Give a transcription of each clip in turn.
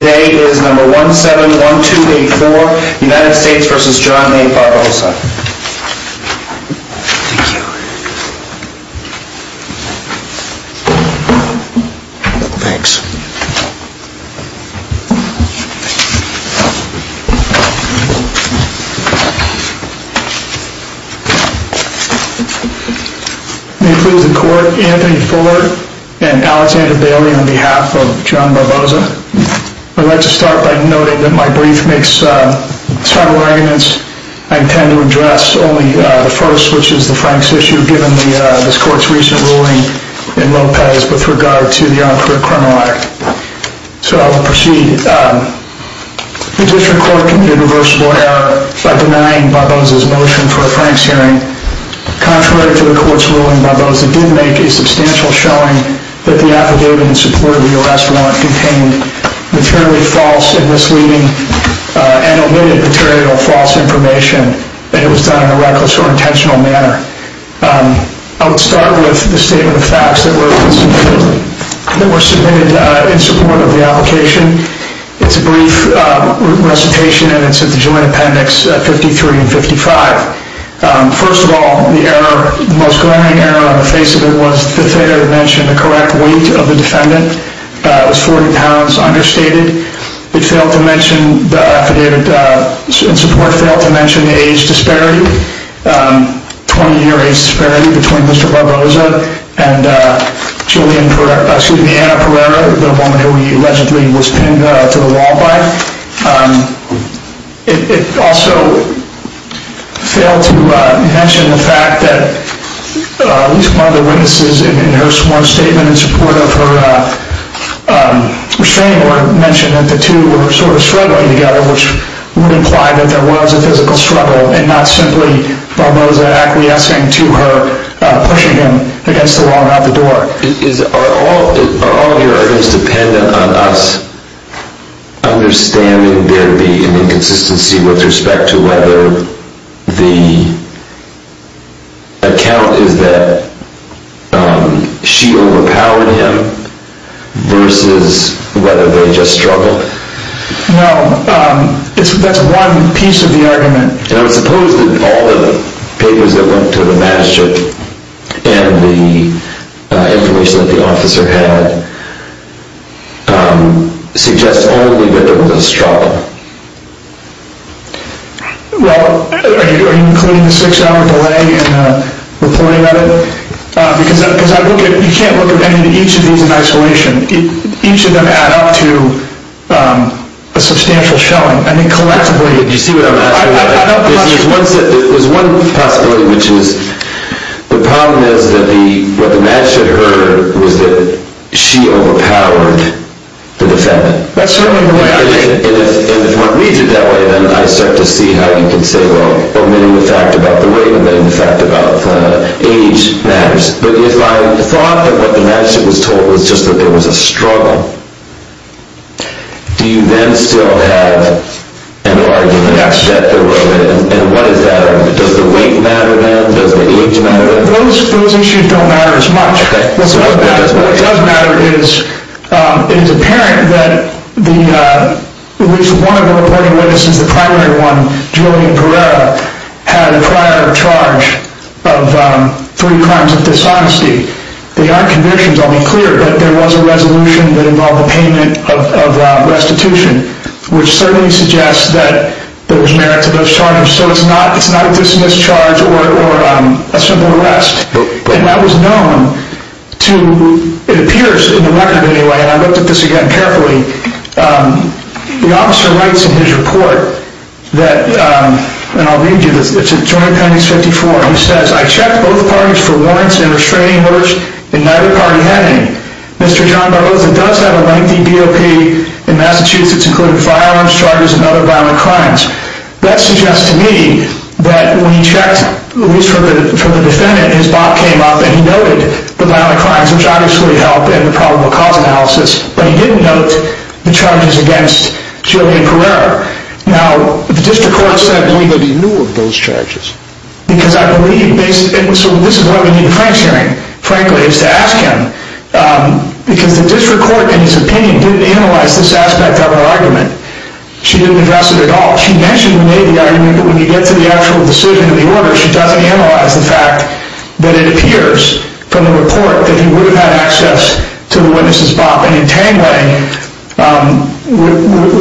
Today is number 171284, United States v. John A. Barbosa. Thank you. Thanks. May it please the court, Anthony Ford and Alexander Bailey on behalf of John Barbosa. I'd like to start by noting that my brief makes several arguments. I intend to address only the first, which is the Franks issue, given this court's recent ruling in Lopez with regard to the on-court criminal act. So I will proceed. The district court committed a reversible error by denying Barbosa's motion for a Franks hearing, contrary to the court's ruling, Barbosa did make a substantial showing that the affidavit in support of the arrest warrant contained materially false and misleading and omitted material false information that it was done in a reckless or intentional manner. I would start with the statement of facts that were submitted in support of the application. It's a brief recitation, and it's at the joint appendix 53 and 55. First of all, the error, the most glaring error on the face of it was the failure to mention the correct weight of the defendant. It was 40 pounds understated. It failed to mention the affidavit in support, failed to mention the age disparity, 20-year age disparity between Mr. Barbosa and Julian, excuse me, Anna Pereira, the woman who he allegedly was pinned to the wall by. It also failed to mention the fact that at least one of the witnesses in her sworn statement in support of her restraining order mentioned that the two were sort of struggling together, which would imply that there was a physical struggle and not simply Barbosa acquiescing to her pushing him against the wall and out the door. Are all of your arguments dependent on us understanding there to be an inconsistency with respect to whether the account is that she overpowered him versus whether they just struggled? No, that's one piece of the argument. And I would suppose that all the papers that went to the magistrate and the information that the officer had suggests only that there was a struggle. Well, are you including the six-hour delay in the reporting of it? Because you can't look at each of these in isolation. Each of them add up to a substantial showing. There's one possibility, which is the problem is that what the magistrate heard was that she overpowered the defendant. And if one reads it that way, then I start to see how you can say, well, omitting the fact about the weight and then the fact about age matters. But if I thought that what the magistrate was told was just that there was a struggle, do you then still have an argument that there was? And what is that argument? Does the weight matter then? Does the age matter then? Those issues don't matter as much. What does matter is it is apparent that at least one of the reporting witnesses, the primary one, Julian Perera, had a prior charge of three crimes of dishonesty. The archivistion is only clear that there was a resolution that involved a payment of restitution, which certainly suggests that there was merit to those charges. So it's not a dismissed charge or a simple arrest. And that was known to, it appears in the record anyway, and I looked at this again carefully, the officer writes in his report that, and I'll read you this, it's in Joint Penance 54. He says, I checked both parties for warrants and restraining orders, and neither party had any. Mr. John Barboza does have a lengthy BOP in Massachusetts, including firearms charges and other violent crimes. That suggests to me that when he checked, at least for the defendant, his BOP came up and he noted the violent crimes, which obviously helped in the probable cause analysis, but he didn't note the charges against Julian Perera. Now, the district court said that he knew of those charges. Because I believe, and so this is why we need the Franks hearing, frankly, is to ask him, because the district court, in his opinion, didn't analyze this aspect of her argument. She didn't address it at all. She mentioned the Navy argument, but when you get to the actual decision of the order, she doesn't analyze the fact that it appears from the report that he would have had access to the witness' BOP. And in Tangway,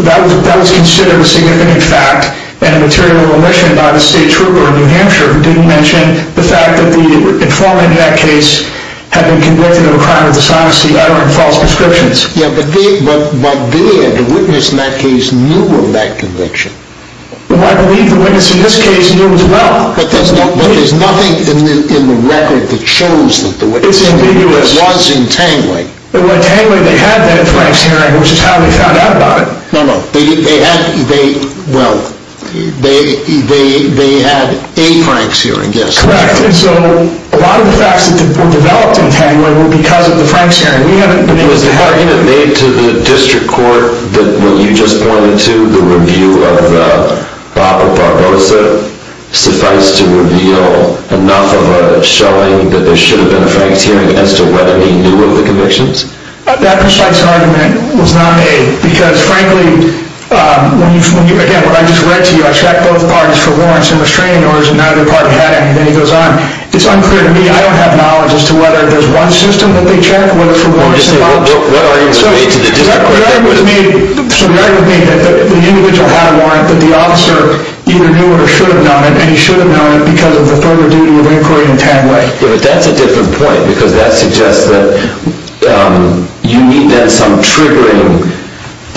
that was considered a significant fact and a material omission by the state trooper in New Hampshire who didn't mention the fact that the informant in that case had been convicted of a crime of dishonesty, uttering false prescriptions. Yeah, but the witness in that case knew of that conviction. Well, I believe the witness in this case knew as well. But there's nothing in the record that shows that the witness was in Tangway. It's ambiguous. In Tangway, they had that Franks hearing, which is how they found out about it. No, no, they had, well, they had a Franks hearing, yes. Correct, and so a lot of the facts that were developed in Tangway were because of the Franks hearing. Was the argument made to the district court that what you just pointed to, the review of BOP or Barbosa, suffice to reveal enough of a showing that there should have been a Franks hearing as to whether he knew of the convictions? That precise argument was not made because, frankly, again, what I just read to you, I checked both parties for warrants and restraining orders, and neither party had any. Then he goes on. It's unclear to me. I don't have knowledge as to whether there's one system that they checked, whether for warrants or not. So the argument was made that the individual had a warrant, that the officer either knew or should have known it, and he should have known it because of the further duty of inquiry in Tangway. Yeah, but that's a different point because that suggests that you need then some triggering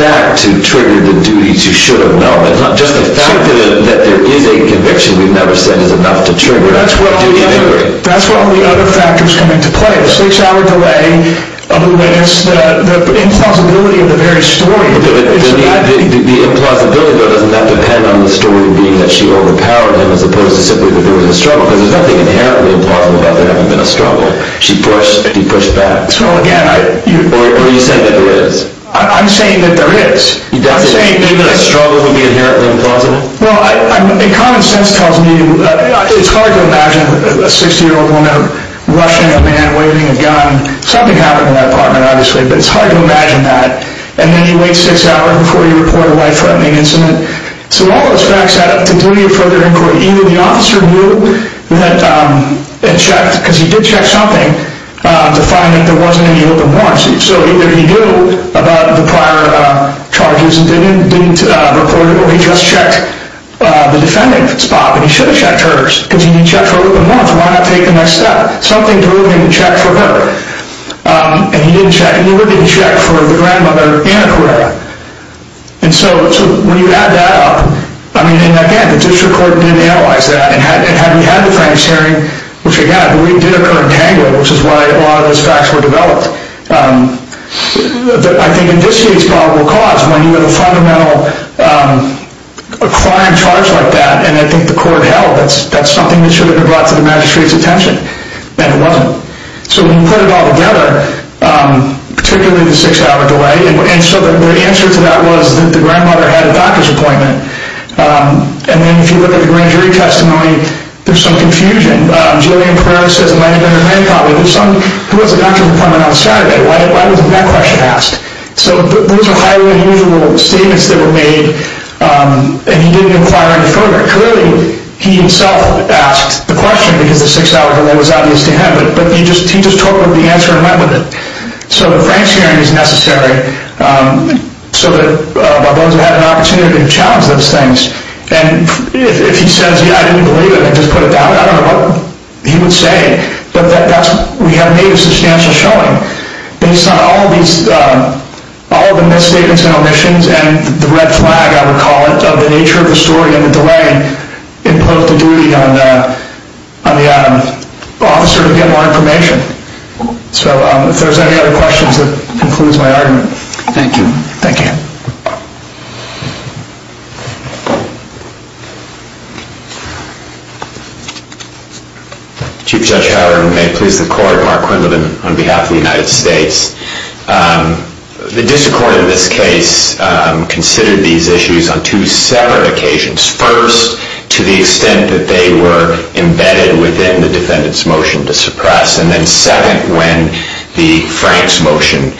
back to trigger the duties you should have known. It's not just the fact that there is a conviction we've never said is enough to trigger a duty of inquiry. That's where all the other factors come into play. The six-hour delay, the impossibility of the very story. The implausibility of it, doesn't that depend on the story being that she overpowered him as opposed to simply that there was a struggle? Because there's nothing inherently implausible about there having been a struggle. She pushed and he pushed back. Or are you saying that there is? I'm saying that there is. You think that a struggle would be inherently implausible? Well, common sense tells me it's hard to imagine a 60-year-old woman rushing a man, waving a gun. Something happened in that apartment, obviously, but it's hard to imagine that. And then you wait six hours before you report a life-threatening incident. So all those facts add up to duty of further inquiry. Either the officer knew and checked, because he did check something, to find that there wasn't any loop and warrants. So either he knew about the prior charges and didn't report it, or he just checked the defendant's spot. But he should have checked hers, because he didn't check for a loop and warrants. Why not take the next step? Something drove him to check for her. And he would have been checked for the grandmother and her career. And so when you add that up, I mean, again, the district court didn't analyze that. And had we had the Franks hearing, which, again, I believe did occur in Tango, which is why a lot of those facts were developed, I think in this case probable cause, when you have a fundamental crime charge like that, and I think the court held that's something that should have been brought to the magistrate's attention, and it wasn't. So when you put it all together, particularly the six-hour delay, and so the answer to that was that the grandmother had a doctor's appointment. And then if you look at the grand jury testimony, there's some confusion. Jillian Perez says it might have been her grand-colleague. Who has a doctor's appointment on a Saturday? Why wasn't that question asked? So those are highly unusual statements that were made, and he didn't inquire any further. Clearly, he himself asked the question, because the six-hour delay was obvious to him. But he just took the answer and went with it. So the Franks hearing is necessary so that those who had an opportunity to challenge those things. And if he says, yeah, I didn't believe it, and just put it down, I don't know what he would say, but we have made a substantial showing based on all the misstatements and omissions and the red flag, I would call it, of the nature of the story and the delay, and impose the duty on the officer to get more information. So if there's any other questions, that concludes my argument. Thank you. Thank you. Chief Judge Howard, and may it please the Court, Mark Quindlen on behalf of the United States. The district court in this case considered these issues on two separate occasions. First, to the extent that they were embedded within the defendant's motion to suppress, and then second, when the Franks motion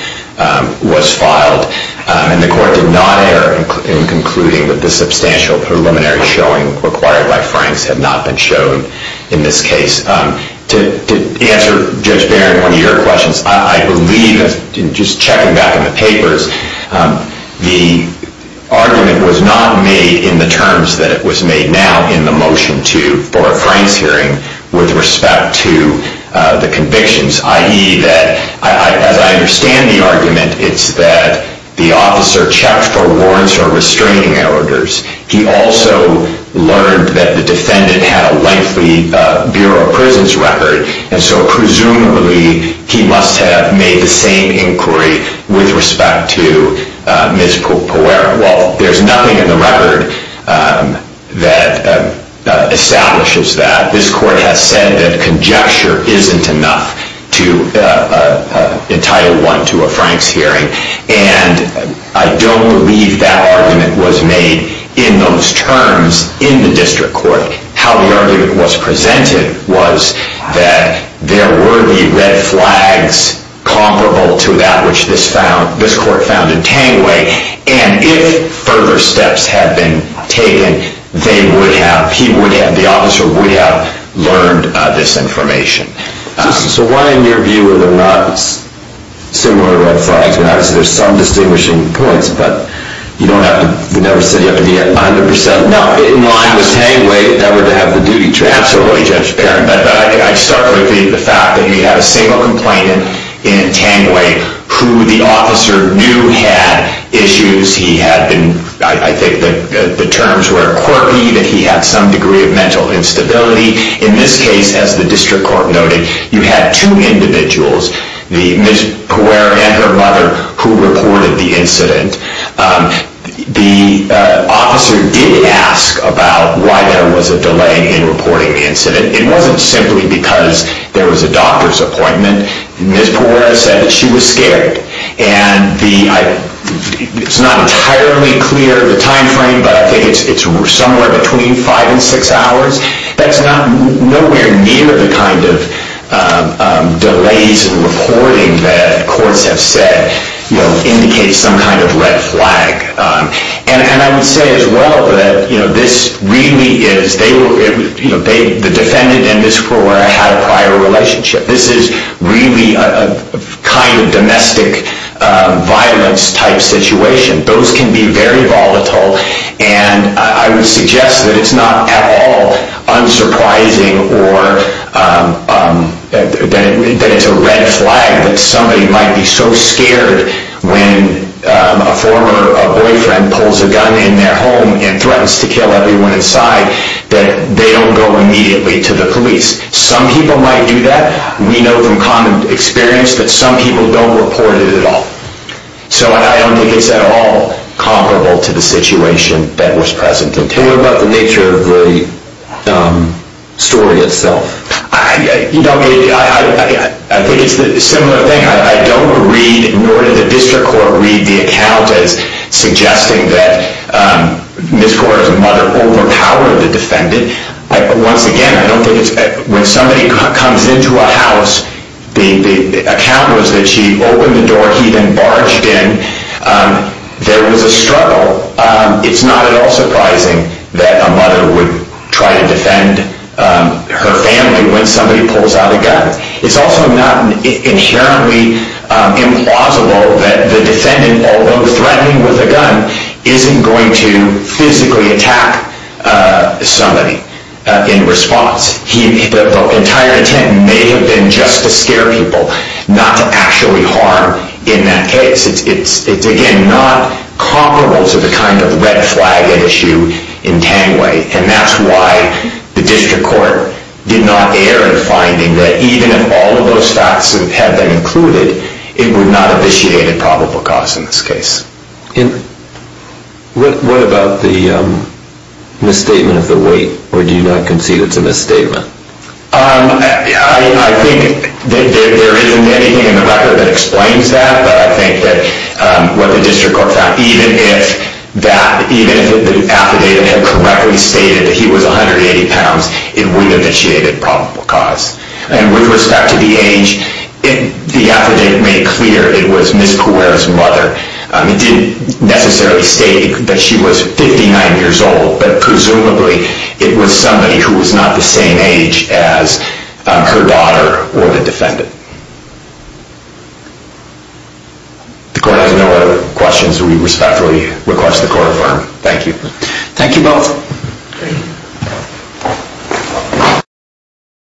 was filed. And the Court did not err in concluding that the substantial preliminary showing required by Franks had not been shown in this case. To answer Judge Barron, one of your questions, I believe, just checking back in the papers, the argument was not made in the terms that it was made now in the motion for a Franks hearing with respect to the convictions, i.e. that, as I understand the argument, it's that the officer checked for warrants or restraining orders. He also learned that the defendant had a lengthy Bureau of Prisons record, and so presumably he must have made the same inquiry with respect to Ms. Poerra. Well, there's nothing in the record that establishes that. This Court has said that conjecture isn't enough to entitle one to a Franks hearing, and I don't believe that argument was made in those terms in the district court. How the argument was presented was that there were the red flags comparable to that which this Court found in Tangway, and if further steps had been taken, the officer would have learned this information. So why, in your view, were there not similar red flags? I mean, obviously there's some distinguishing points, but you don't have to never say you have to be 100 percent. No, in line with Tangway, I would have the duty to absolutely be transparent. But I start with the fact that you have a single complainant in Tangway who the officer knew had issues. He had been, I think the terms were quirky, that he had some degree of mental instability. In this case, as the district court noted, you had two individuals, Ms. Poerra and her mother, who reported the incident. The officer did ask about why there was a delay in reporting the incident. It wasn't simply because there was a doctor's appointment. Ms. Poerra said that she was scared. And it's not entirely clear, the time frame, but I think it's somewhere between five and six hours. That's nowhere near the kind of delays in reporting that courts have said indicates some kind of red flag. And I would say as well that this really is, the defendant and Ms. Poerra had a prior relationship. This is really a kind of domestic violence type situation. Those can be very volatile. And I would suggest that it's not at all unsurprising or that it's a red flag that somebody might be so scared when a former boyfriend pulls a gun in their home and threatens to kill everyone inside, that they don't go immediately to the police. Some people might do that. We know from common experience that some people don't report it at all. So I don't think it's at all comparable to the situation that was present. What about the nature of the story itself? I think it's a similar thing. I don't read, nor did the district court read the account as suggesting that Ms. Poerra's mother overpowered the defendant. Once again, I don't think it's, when somebody comes into a house, the account was that she opened the door, he then barged in. There was a struggle. It's not at all surprising that a mother would try to defend her family when somebody pulls out a gun. It's also not inherently implausible that the defendant, although threatening with a gun, isn't going to physically attack somebody in response. The entire intent may have been just to scare people, not to actually harm in that case. It's, again, not comparable to the kind of red flag issue in Tangway, and that's why the district court did not err in finding that even if all of those facts had been included, it would not have initiated probable cause in this case. What about the misstatement of the weight, or do you not concede it's a misstatement? I think that there isn't anything in the record that explains that, but I think that what the district court found, even if the affidavit had correctly stated that he was 180 pounds, it would have initiated probable cause. And with respect to the age, the affidavit made clear it was Ms. Poerra's mother. It didn't necessarily state that she was 59 years old, but presumably it was somebody who was not the same age as her daughter or the defendant. If the court has no other questions, we respectfully request the court affirm. Thank you. Thank you both.